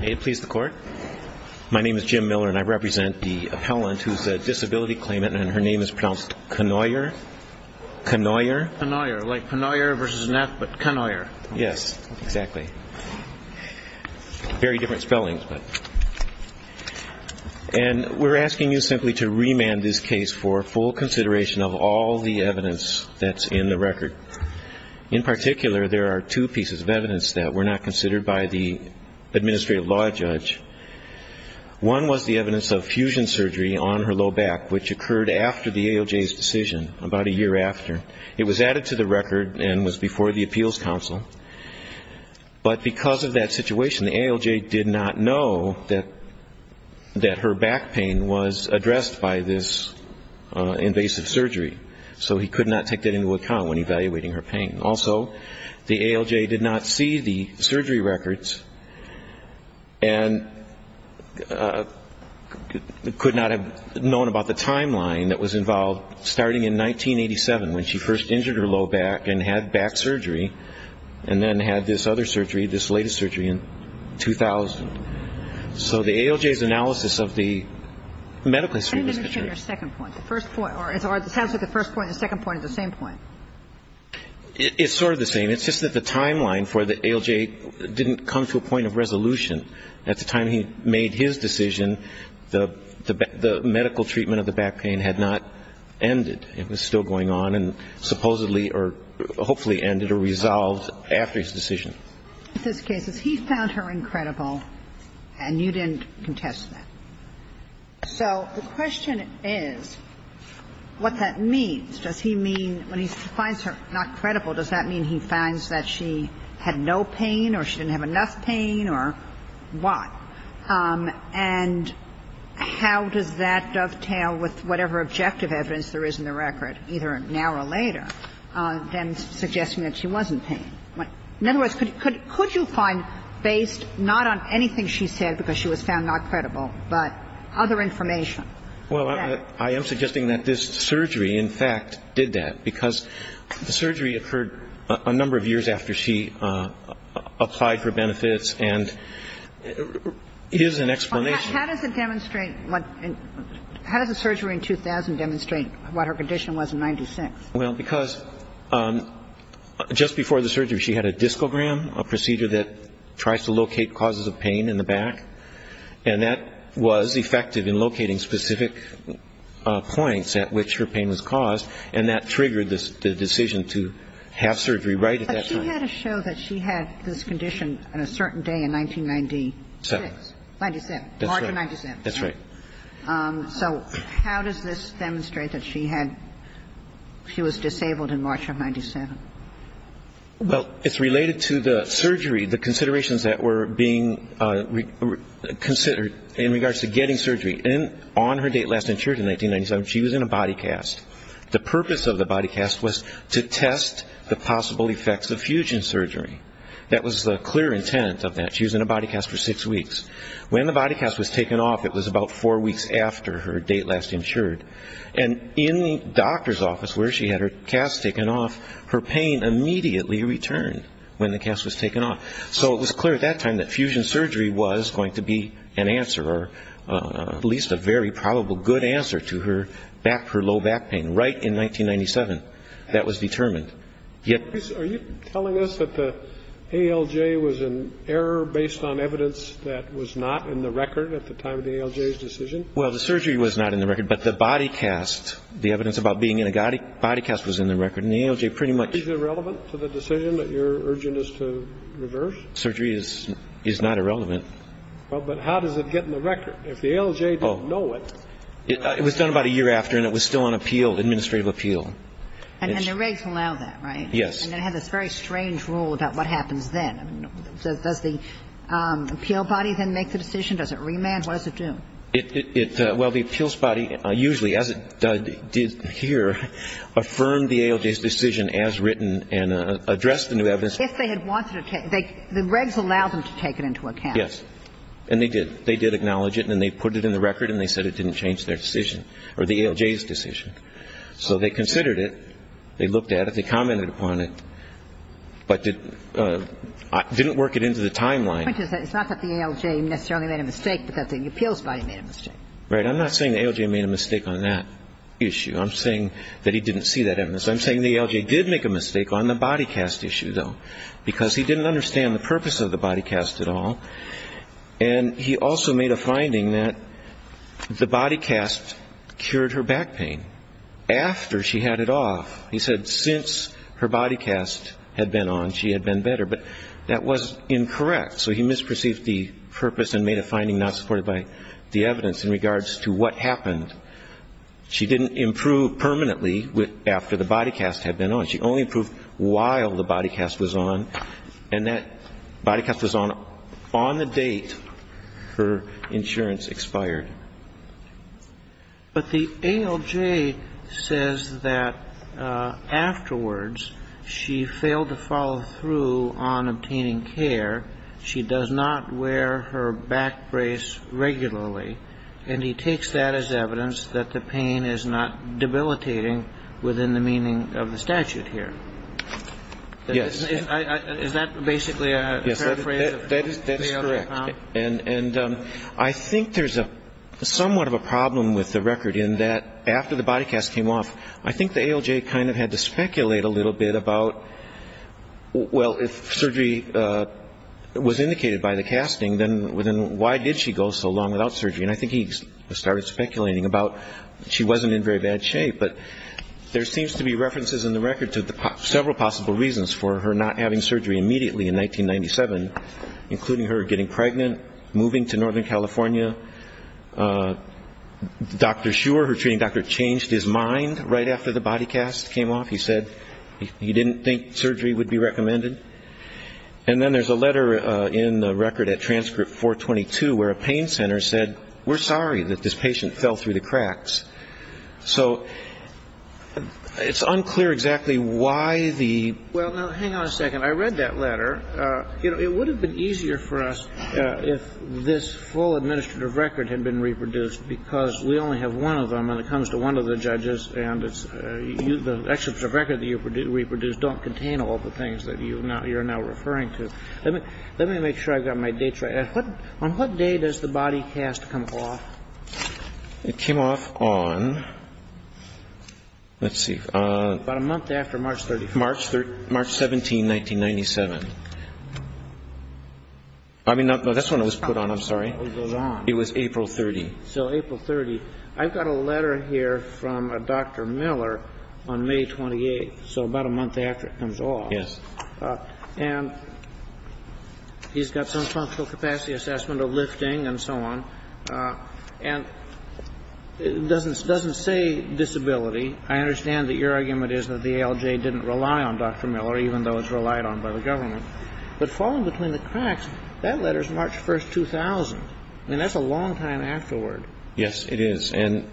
May it please the court. My name is Jim Miller and I represent the appellant who is a disability claimant and her name is pronounced Kanawyer. Kanawyer. Kanawyer, like Kanawyer v. Neff, but Kanawyer. Yes, exactly. Very different spellings. And we're asking you simply to remand this case for full consideration of all the evidence that's in the record. In particular, there are two pieces of evidence that were not considered by the administrative law judge. One was the evidence of fusion surgery on her low back, which occurred after the AOJ's decision, about a year after. It was added to the record and was before the appeals council. But because of that situation, the AOJ did not know that her back pain was addressed by this invasive surgery. So he could not take that into account when evaluating her pain. Also, the AOJ did not see the surgery records and could not have known about the timeline that was involved, starting in 1987, when she first injured her low back and had back surgery, and then had this other surgery, this latest surgery in 2000. So the AOJ's analysis of the medical history was contrary. The first point, or it sounds like the first point and the second point are the same point. It's sort of the same. It's just that the timeline for the AOJ didn't come to a point of resolution. At the time he made his decision, the medical treatment of the back pain had not ended. It was still going on and supposedly or hopefully ended or resolved after his decision. In this case, he found her incredible and you didn't contest that. So the question is what that means. Does he mean, when he finds her not credible, does that mean he finds that she had no pain or she didn't have enough pain or what? And how does that dovetail with whatever objective evidence there is in the record, either now or later, than suggesting that she wasn't pained? In other words, could you find, based not on anything she said because she was found not credible, but other information that she had? Well, I am suggesting that this surgery, in fact, did that because the surgery occurred a number of years after she applied for benefits and is an explanation. How does it demonstrate, how does a surgery in 2000 demonstrate what her condition was in 1996? Well, because just before the surgery, she had a discogram, a procedure that tries to locate causes of pain in the back. And that was effective in locating specific points at which her pain was caused, and that triggered the decision to have surgery right at that time. But she had to show that she had this condition on a certain day in 1996. Ninety-six. Ninety-seven. That's right. March of 97. That's right. So how does this demonstrate that she had, she was disabled in March of 97? Well, it's related to the surgery, the considerations that were being considered in regards to getting surgery. And on her date last insured in 1997, she was in a body cast. The purpose of the body cast was to test the possible effects of fusion surgery. That was the clear intent of that. She was in a body cast for six weeks. When the body cast was taken off, it was about four weeks after her date last insured. And in the doctor's office where she had her cast taken off, her pain immediately returned when the cast was taken off. So it was clear at that time that fusion surgery was going to be an answer, or at least a very probable good answer to her back, her low back pain, right in 1997. That was determined. Are you telling us that the ALJ was an error based on evidence that was not in the record at the time of the ALJ's decision? Well, the surgery was not in the record, but the body cast, the evidence about being in a body cast was in the record. And the ALJ pretty much is irrelevant to the decision that you're urging us to reverse? Surgery is not irrelevant. Well, but how does it get in the record? If the ALJ didn't know it. It was done about a year after, and it was still on appeal, administrative appeal. And the regs allowed that, right? Yes. And it had this very strange rule about what happens then. Does the appeal body then make the decision? Does it remand? What does it do? Well, the appeals body usually, as it did here, affirmed the ALJ's decision as written and addressed the new evidence. If they had wanted to take the regs allowed them to take it into account. Yes. And they did. They did acknowledge it, and then they put it in the record, and they said it didn't change their decision, or the ALJ's decision. So they considered it. They looked at it. They commented upon it. But didn't work it into the timeline. The point is that it's not that the ALJ necessarily made a mistake, but that the appeals body made a mistake. Right. I'm not saying the ALJ made a mistake on that issue. I'm saying that he didn't see that evidence. I'm saying the ALJ did make a mistake on the body cast issue, though, because he didn't understand the purpose of the body cast at all. And he also made a finding that the body cast cured her back pain after she had it off. He said since her body cast had been on, she had been better. But that was incorrect. So he misperceived the purpose and made a finding not supported by the evidence in regards to what happened. She didn't improve permanently after the body cast had been on. She only improved while the body cast was on. And that body cast was on on the date her insurance expired. But the ALJ says that afterwards she failed to follow through on obtaining care. She does not wear her back brace regularly. And he takes that as evidence that the pain is not debilitating within the meaning of the statute here. Yes. Is that basically a paraphrase? That is correct. And I think there's somewhat of a problem with the record in that after the body cast came off, I think the ALJ kind of had to speculate a little bit about, well, if surgery was indicated by the casting, then why did she go so long without surgery? And I think he started speculating about she wasn't in very bad shape. But there seems to be references in the record to several possible reasons for her not having surgery immediately in 1997, including her getting pregnant, moving to northern California. Dr. Schuer, her treating doctor, changed his mind right after the body cast came off. He said he didn't think surgery would be recommended. And then there's a letter in the record at transcript 422 where a pain center said, we're sorry that this patient fell through the cracks. So it's unclear exactly why the ---- Well, that's a great letter. You know, it would have been easier for us if this full administrative record had been reproduced, because we only have one of them, and it comes to one of the judges and it's the excerpts of record that you reproduced don't contain all the things that you're now referring to. Let me make sure I've got my dates right. On what day does the body cast come off? It came off on, let's see, on ---- About a month after March 31st. March 17, 1997. I mean, that's when it was put on. I'm sorry. It was April 30th. So April 30th. I've got a letter here from a Dr. Miller on May 28th, so about a month after it comes off. Yes. And he's got some functional capacity assessment of lifting and so on. And it doesn't say disability. I understand that your argument is that the ALJ didn't rely on Dr. Miller, even though it's relied on by the government. But falling between the cracks, that letter is March 1st, 2000. I mean, that's a long time afterward. Yes, it is. And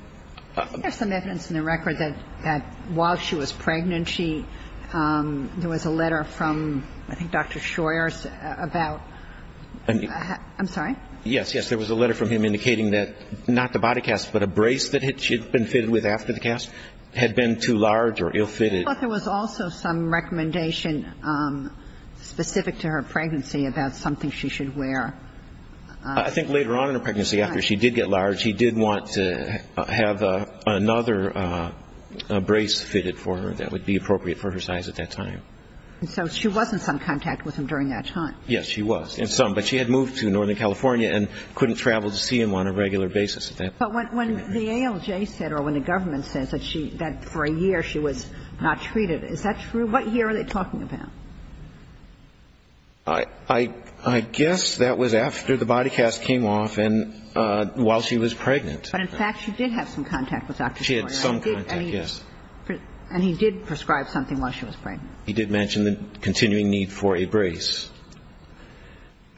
---- There's some evidence in the record that while she was pregnant, she ---- there was a letter from, I think, Dr. Shoyer about ---- I'm sorry? Yes, yes. There was a letter from him indicating that not the body cast, but a brace that she had been fitted with after the cast had been too large or ill-fitted. But there was also some recommendation specific to her pregnancy about something she should wear. I think later on in her pregnancy, after she did get large, he did want to have another brace fitted for her that would be appropriate for her size at that time. So she was in some contact with him during that time. Yes, she was, in some. But she had moved to Northern California and couldn't travel to see him on a regular basis at that point. But when the ALJ said or when the government said that she ---- that for a year she was not treated, is that true? What year are they talking about? I guess that was after the body cast came off and while she was pregnant. But, in fact, she did have some contact with Dr. Shoyer. She had some contact, yes. And he did prescribe something while she was pregnant. He did mention the continuing need for a brace.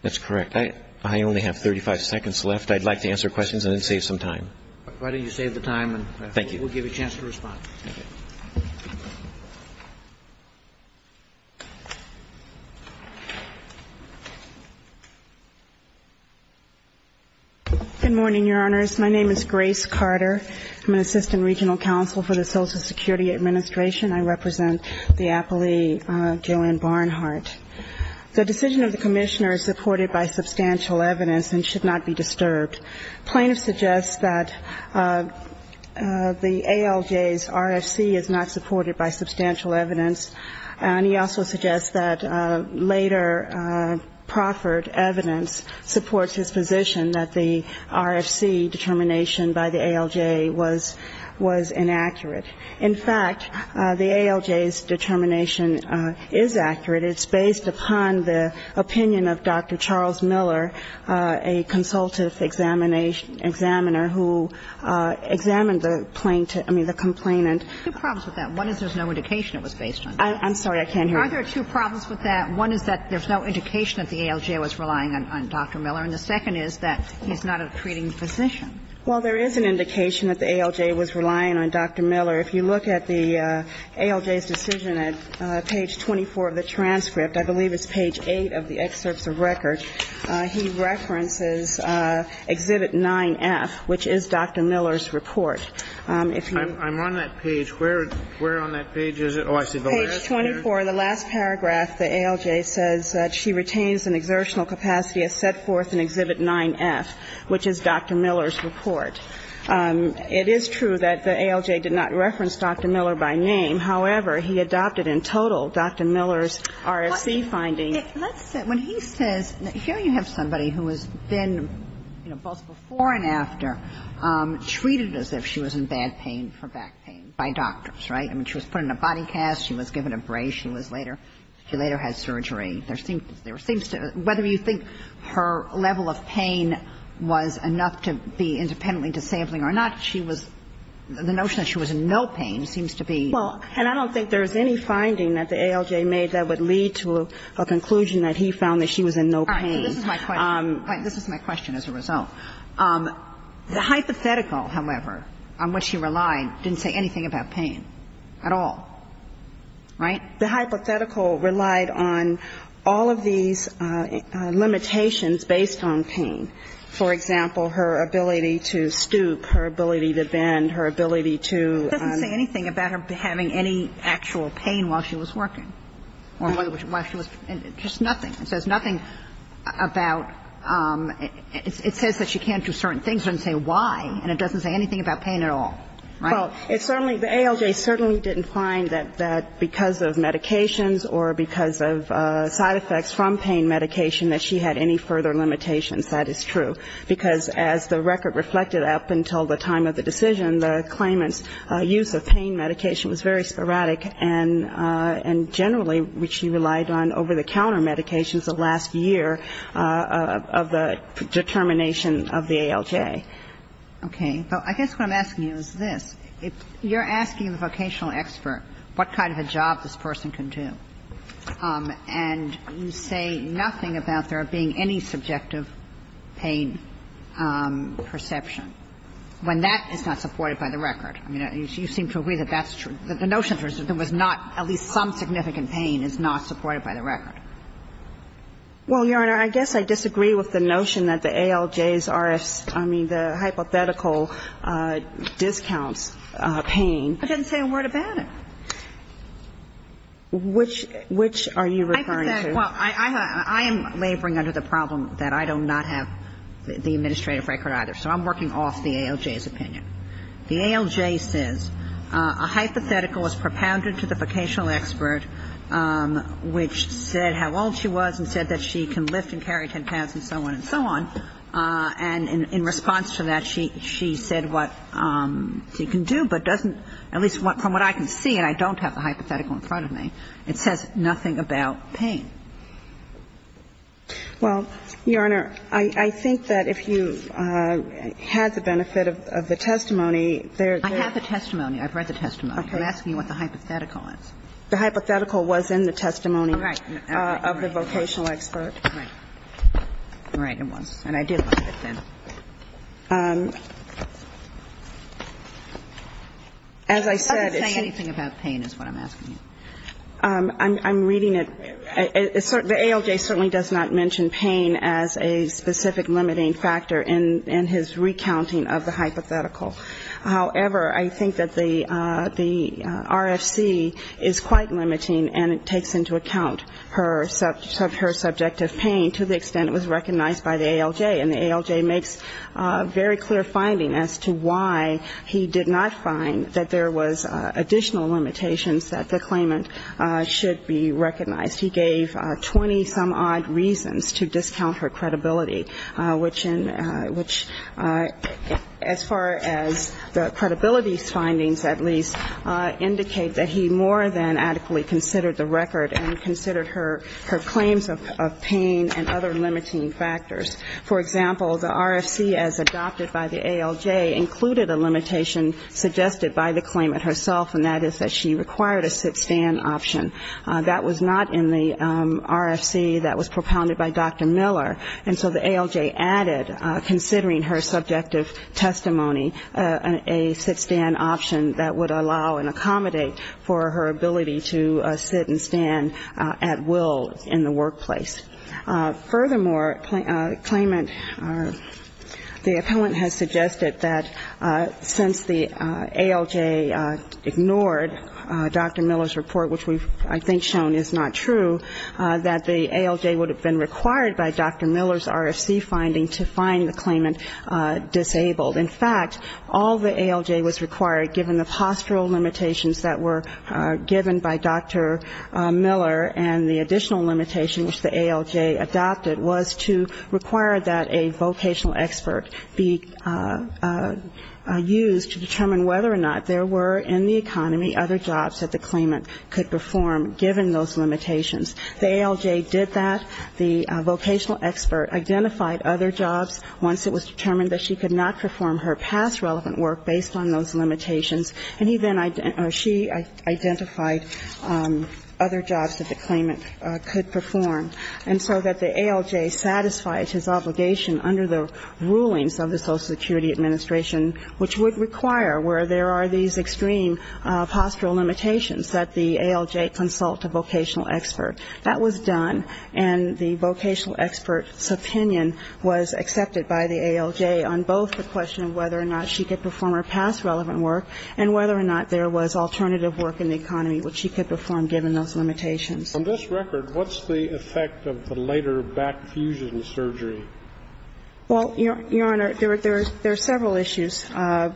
That's correct. I only have 35 seconds left. I'd like to answer questions and then save some time. Why don't you save the time and we'll give you a chance to respond. Thank you. Good morning, Your Honors. My name is Grace Carter. I'm an assistant regional counsel for the Social Security Administration. I represent the appellee, Joanne Barnhart. The decision of the commissioner is supported by substantial evidence and should not be disturbed. Plaintiffs suggest that the ALJ's RFC is not supported by substantial evidence, and he also suggests that later proffered evidence supports his position that the RFC determination by the ALJ was inaccurate. In fact, the ALJ's determination is accurate. It's based upon the opinion of Dr. Charles Miller, a consultative examiner who examined the complainant. Two problems with that. One is there's no indication it was based on that. I'm sorry, I can't hear you. Are there two problems with that? One is that there's no indication that the ALJ was relying on Dr. Miller, and the second is that he's not a treating physician. Well, there is an indication that the ALJ was relying on Dr. Miller. If you look at the ALJ's decision at page 24 of the transcript, I believe it's page 8 of the excerpts of record, he references Exhibit 9F, which is Dr. Miller's report. I'm on that page. Where on that page is it? Page 24, the last paragraph, the ALJ says that she retains an exertional capacity as set forth in Exhibit 9F, which is Dr. Miller's report. It is true that the ALJ did not reference Dr. Miller by name. However, he adopted in total Dr. Miller's RFC finding. Let's say, when he says, here you have somebody who has been, you know, both before and after treated as if she was in bad pain for back pain by doctors, right? I mean, she was put in a body cast. She was given a brace. She was later, she later had surgery. There seems to be, whether you think her level of pain was enough to be independently disabling or not, she was, the notion that she was in no pain seems to be. Well, and I don't think there's any finding that the ALJ made that would lead to a conclusion that he found that she was in no pain. All right. So this is my question. This is my question as a result. The hypothetical, however, on which he relied, didn't say anything about pain at all. Right? The hypothetical relied on all of these limitations based on pain. For example, her ability to stoop, her ability to bend, her ability to ‑‑ It doesn't say anything about her having any actual pain while she was working. Or while she was, just nothing. It says nothing about, it says that she can't do certain things. It doesn't say why. And it doesn't say anything about pain at all. Right? Well, it certainly, the ALJ certainly didn't find that because of medications or because of side effects from pain medication that she had any further limitations. That is true. Because as the record reflected up until the time of the decision, the claimant's use of pain medication was very sporadic. And generally, which she relied on over-the-counter medications the last year of the determination of the ALJ. Okay. But I guess what I'm asking you is this. You're asking the vocational expert what kind of a job this person can do. And you say nothing about there being any subjective pain perception, when that is not supported by the record. I mean, you seem to agree that that's true. The notion that there was not at least some significant pain is not supported by the record. Well, Your Honor, I guess I disagree with the notion that the ALJs are, I mean, the hypothetical discounts pain. I didn't say a word about it. Which are you referring to? Well, I am laboring under the problem that I do not have the administrative record either. So I'm working off the ALJ's opinion. The ALJ says a hypothetical is propounded to the vocational expert which said how old she was and said that she can lift and carry 10 pounds and so on and so on. And in response to that, she said what she can do, but doesn't, at least from what I can see, and I don't have the hypothetical in front of me, it says nothing about pain. Well, Your Honor, I think that if you had the benefit of the testimony, there I have the testimony. I've read the testimony. I'm asking you what the hypothetical is. The hypothetical was in the testimony of the vocational expert. Right. Right, it was. And I did look at it then. As I said, it's I'm not saying anything about pain is what I'm asking you. I'm reading it. The ALJ certainly does not mention pain as a specific limiting factor in his recounting of the hypothetical. However, I think that the RFC is quite limiting and it takes into account her subjective pain to the extent it was recognized by the ALJ. And the ALJ makes very clear finding as to why he did not find that there was additional limitations that the claimant should be recognized. He gave 20-some-odd reasons to discount her credibility, which, as far as the credibility's findings, at least, indicate that he more than adequately considered the record and considered her claims of pain and other limiting factors. For example, the RFC, as adopted by the ALJ, included a limitation suggested by the claimant herself, and that is that she required a sit-stand option. That was not in the RFC that was propounded by Dr. Miller, and so the ALJ added, considering her subjective testimony, a sit-stand option that would allow and stand at will in the workplace. Furthermore, the claimant, the appellant has suggested that since the ALJ ignored Dr. Miller's report, which I think is shown is not true, that the ALJ would have been required by Dr. Miller's RFC finding to find the claimant disabled. In fact, all the ALJ was required, given the postural limitations that were given by Dr. Miller and the additional limitation which the ALJ adopted, was to require that a vocational expert be used to determine whether or not there were in the economy other jobs that the claimant could perform, given those limitations. The ALJ did that. The vocational expert identified other jobs once it was determined that she could not perform her past relevant work based on those limitations, and she identified other jobs that the claimant could perform, and so that the ALJ satisfied his obligation under the rulings of the Social Security Administration, which would require, where there are these extreme postural limitations, that the ALJ consult a vocational expert. That was done, and the vocational expert's opinion was accepted by the ALJ on both the question of whether or not she could perform her past relevant work and whether or not there was alternative work in the economy which she could perform, given those limitations. On this record, what's the effect of the later back fusion surgery? Well, Your Honor, there are several issues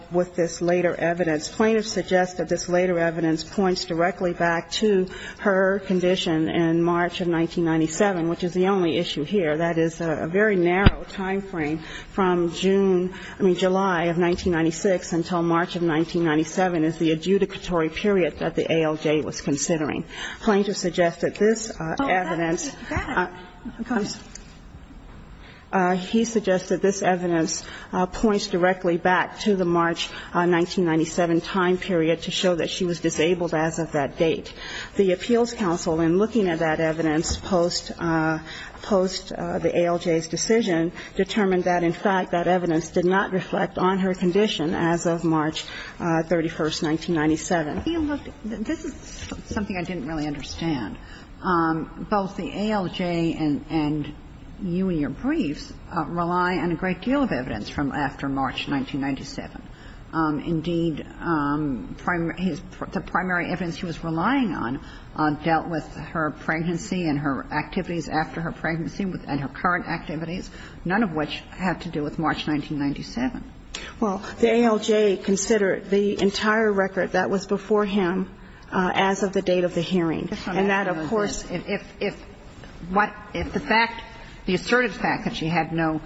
with this later evidence. Plaintiffs suggest that this later evidence points directly back to her condition in March of 1997, which is the only issue here. That is a very narrow time frame from June, I mean, July of 1996 until March of 1997 is the adjudicatory period that the ALJ was considering. Plaintiffs suggest that this evidence points directly back to the March 1997 time period to show that she was disabled as of that date. The Appeals Council, in looking at that evidence post-1997, the ALJ's decision determined that, in fact, that evidence did not reflect on her condition as of March 31st, 1997. You know, this is something I didn't really understand. Both the ALJ and you in your briefs rely on a great deal of evidence from after March 1997. Indeed, the primary evidence he was relying on dealt with her pregnancy and her activities after her pregnancy and her current activities, none of which had to do with March 1997. Well, the ALJ considered the entire record that was before him as of the date of the hearing, and that, of course, if what the fact, the assertive fact that she had no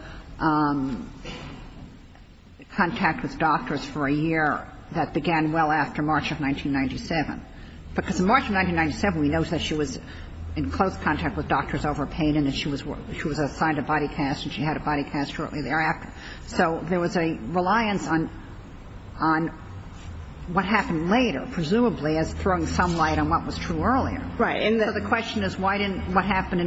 contact with doctors for a year, that began well after March of 1997. Because in March of 1997, we know that she was in close contact with doctors over pain and that she was assigned a body cast and she had a body cast shortly thereafter. So there was a reliance on what happened later, presumably, as throwing some light on what was true earlier. Right. So the question is, why didn't what happened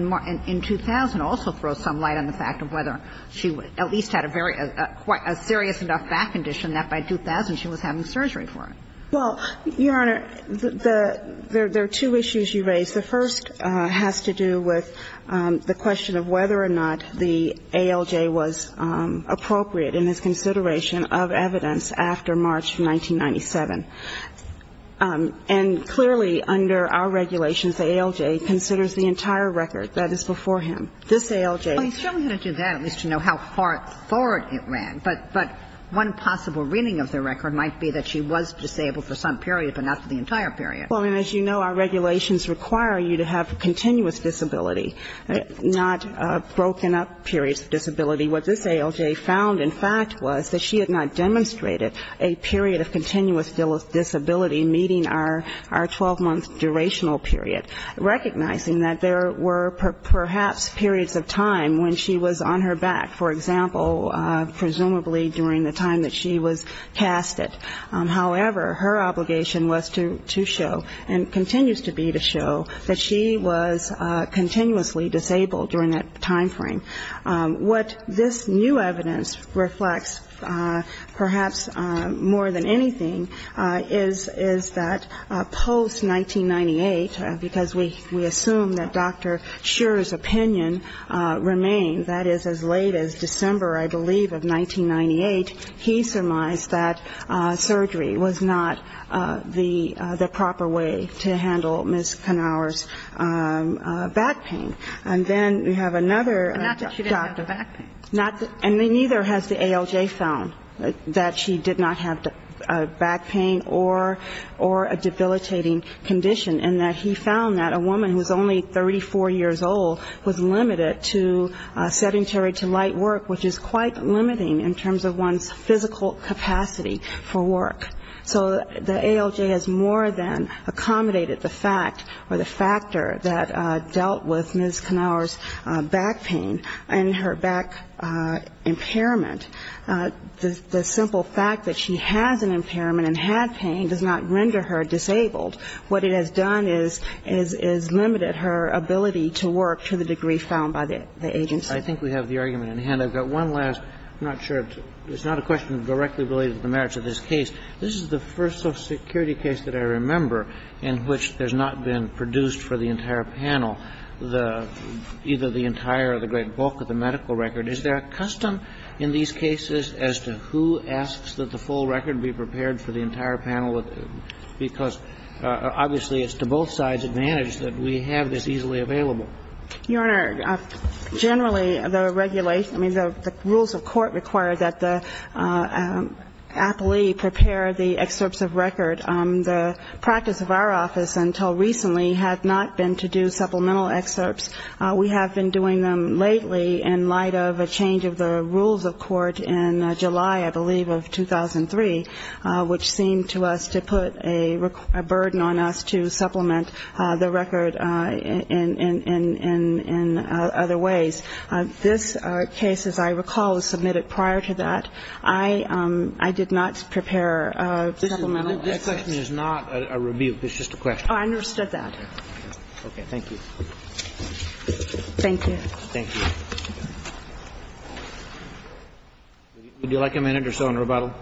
in 2000 also throw some light on the fact of whether she at least had a serious enough back condition that by 2000 she was having surgery for it? Well, Your Honor, there are two issues you raise. The first has to do with the question of whether or not the ALJ was appropriate in his consideration of evidence after March 1997. And clearly, under our regulations, the ALJ considers the entire record that is before him. This ALJ... Well, he certainly had to do that at least to know how far forward it ran. But one possible reading of the record might be that she was disabled for some period, but not for the entire period. Well, and as you know, our regulations require you to have continuous disability, not broken-up periods of disability. What this ALJ found, in fact, was that she had not demonstrated a period of continuous disability meeting our 12-month durational period, recognizing that there were perhaps periods of time when she was on her back, for example, presumably during the time that she was casted. However, her obligation was to show, and continues to be to show, that she was continuously disabled during that time frame. What this new evidence reflects, perhaps more than anything, is that post-1998, because we assume that Dr. Scherer's opinion remains, that is, as late as December, I believe, of 1998, he surmised that surgery was not the proper way to handle Ms. Knauer's back pain. And then we have another... But not that she didn't have the back pain. And neither has the ALJ found that she did not have back pain or a debilitating condition, in that he found that a woman who was only 34 years old was limited to sedentary to light work, which is quite limiting in terms of one's physical capacity for work. So the ALJ has more than accommodated the fact or the factor that dealt with Ms. Knauer's back pain and her back impairment. The simple fact that she has an ALJ, that is, a woman who was only 34 years old, what it has done is limited her ability to work to the degree found by the agency. I think we have the argument in hand. I've got one last. I'm not sure. It's not a question directly related to the merits of this case. This is the first social security case that I remember in which there's not been produced for the entire panel, either the entire or the great bulk of the medical record. Is there a custom in these cases as to who asks that the full record be prepared for the entire panel? Because obviously it's to both sides advantage that we have this easily available. Your Honor, generally the regulation, I mean, the rules of court require that the appellee prepare the excerpts of record. The practice of our office until recently had not been to do supplemental excerpts. We have been doing them lately in light of a change of the rules of court in July, I believe, of 2003, which seemed to us to put a burden on us to supplement the record in other ways. This case, as I recall, was submitted prior to that. I did not prepare supplemental excerpts. This question is not a rebuke. It's just a question. Oh, I understood that. Okay. Thank you. Thank you. Would you like a minute or so in rebuttal?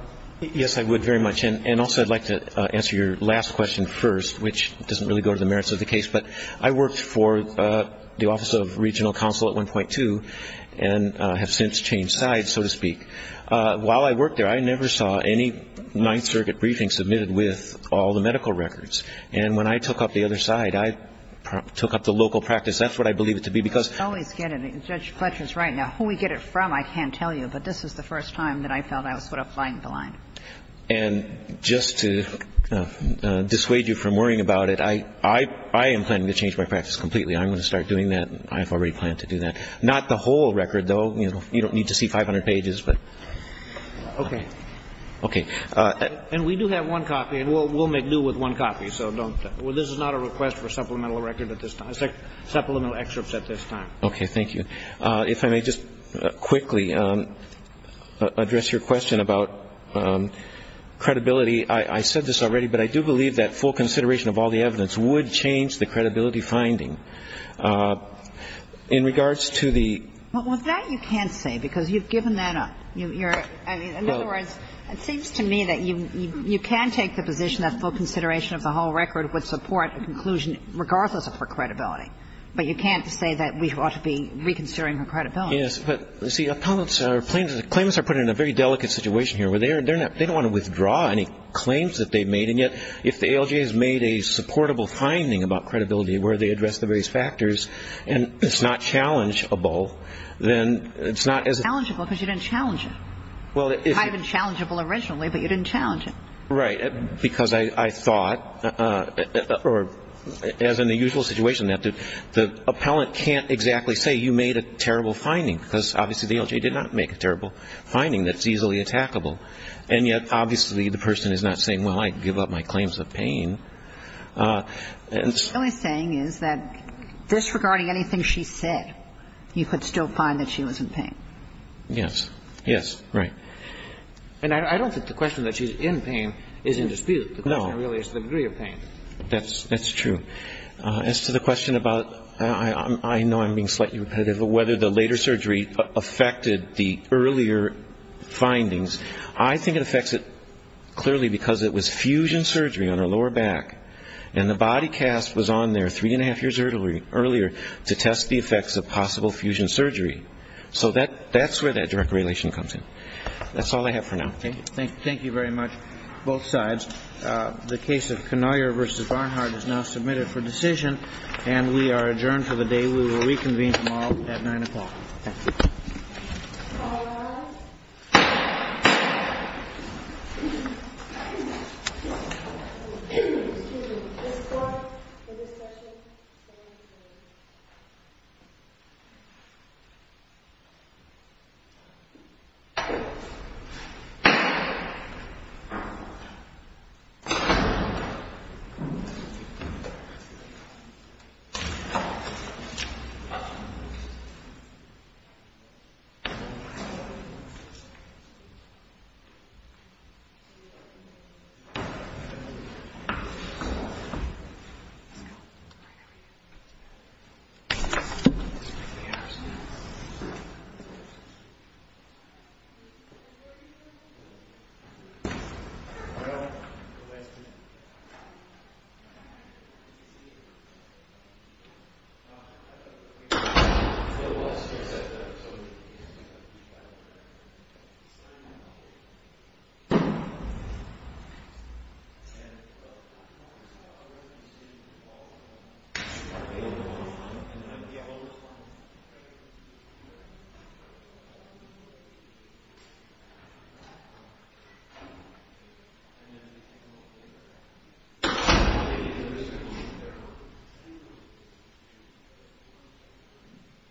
Yes, I would very much. And also I'd like to answer your last question first, which doesn't really go to the merits of the case, but I worked for the Office of Regional Counsel at 1.2 and have since changed sides, so to speak. While I worked there, I never saw any Ninth Circuit briefing submitted with all the medical records. And when I took up the other side, I took up the local practice. That's what I believe it to be, because... I always get it. Judge Fletcher's right. Now, who we get it from, I can't tell you, but this is the first time that I felt I was sort of flying the line. And just to dissuade you from worrying about it, I am planning to change my practice completely. I'm going to start doing that. I've already planned to do that. Not the whole record, though. You don't need to see 500 pages, but... Okay. Okay. And we do have one copy, and we'll make do with one copy, so don't think. Well, this is not a request for this time. Okay. Thank you. If I may just quickly address your question about credibility. I said this already, but I do believe that full consideration of all the evidence would change the credibility finding. In regards to the... Well, that you can't say, because you've given that up. In other words, it seems to me that you can take the position that full consideration of the whole record would support a conclusion, regardless of her credibility. But you can't say that we ought to be reconsidering her credibility. Yes, but, you see, opponents are... Claimants are put in a very delicate situation here, where they don't want to withdraw any claims that they've made. And yet, if the ALJ has made a supportable finding about credibility, where they address the various factors, and it's not challengeable, then it's not as... It's challengeable, because you didn't challenge it. It might have been challengeable originally, but you didn't challenge it. Right. Because I thought, or as in the usual situation, that the appellant can't exactly say you made a terrible finding, because obviously the ALJ did not make a terrible finding that's easily attackable. And yet, obviously, the person is not saying, well, I give up my claims of pain. What he's saying is that disregarding anything she said, you could still find that she was in pain. Yes. Yes. Right. And I don't think the question that she's in pain is in dispute. The question really is the degree of pain. That's true. As to the question about, I know I'm being slightly repetitive, but whether the later surgery affected the earlier findings, I think it affects it clearly because it was fusion surgery on her lower back, and the body cast was on there three and a half years earlier to test the effects of possible fusion surgery. So that's where that direct relation comes in. That's all I have for now. Okay. Thank you very much, both sides. The case of Knoyer v. Barnhart is now submitted for decision, and we are adjourned for the day. We will reconvene tomorrow at 9 o'clock. Thank you. Thank you. Thank you. Thank you.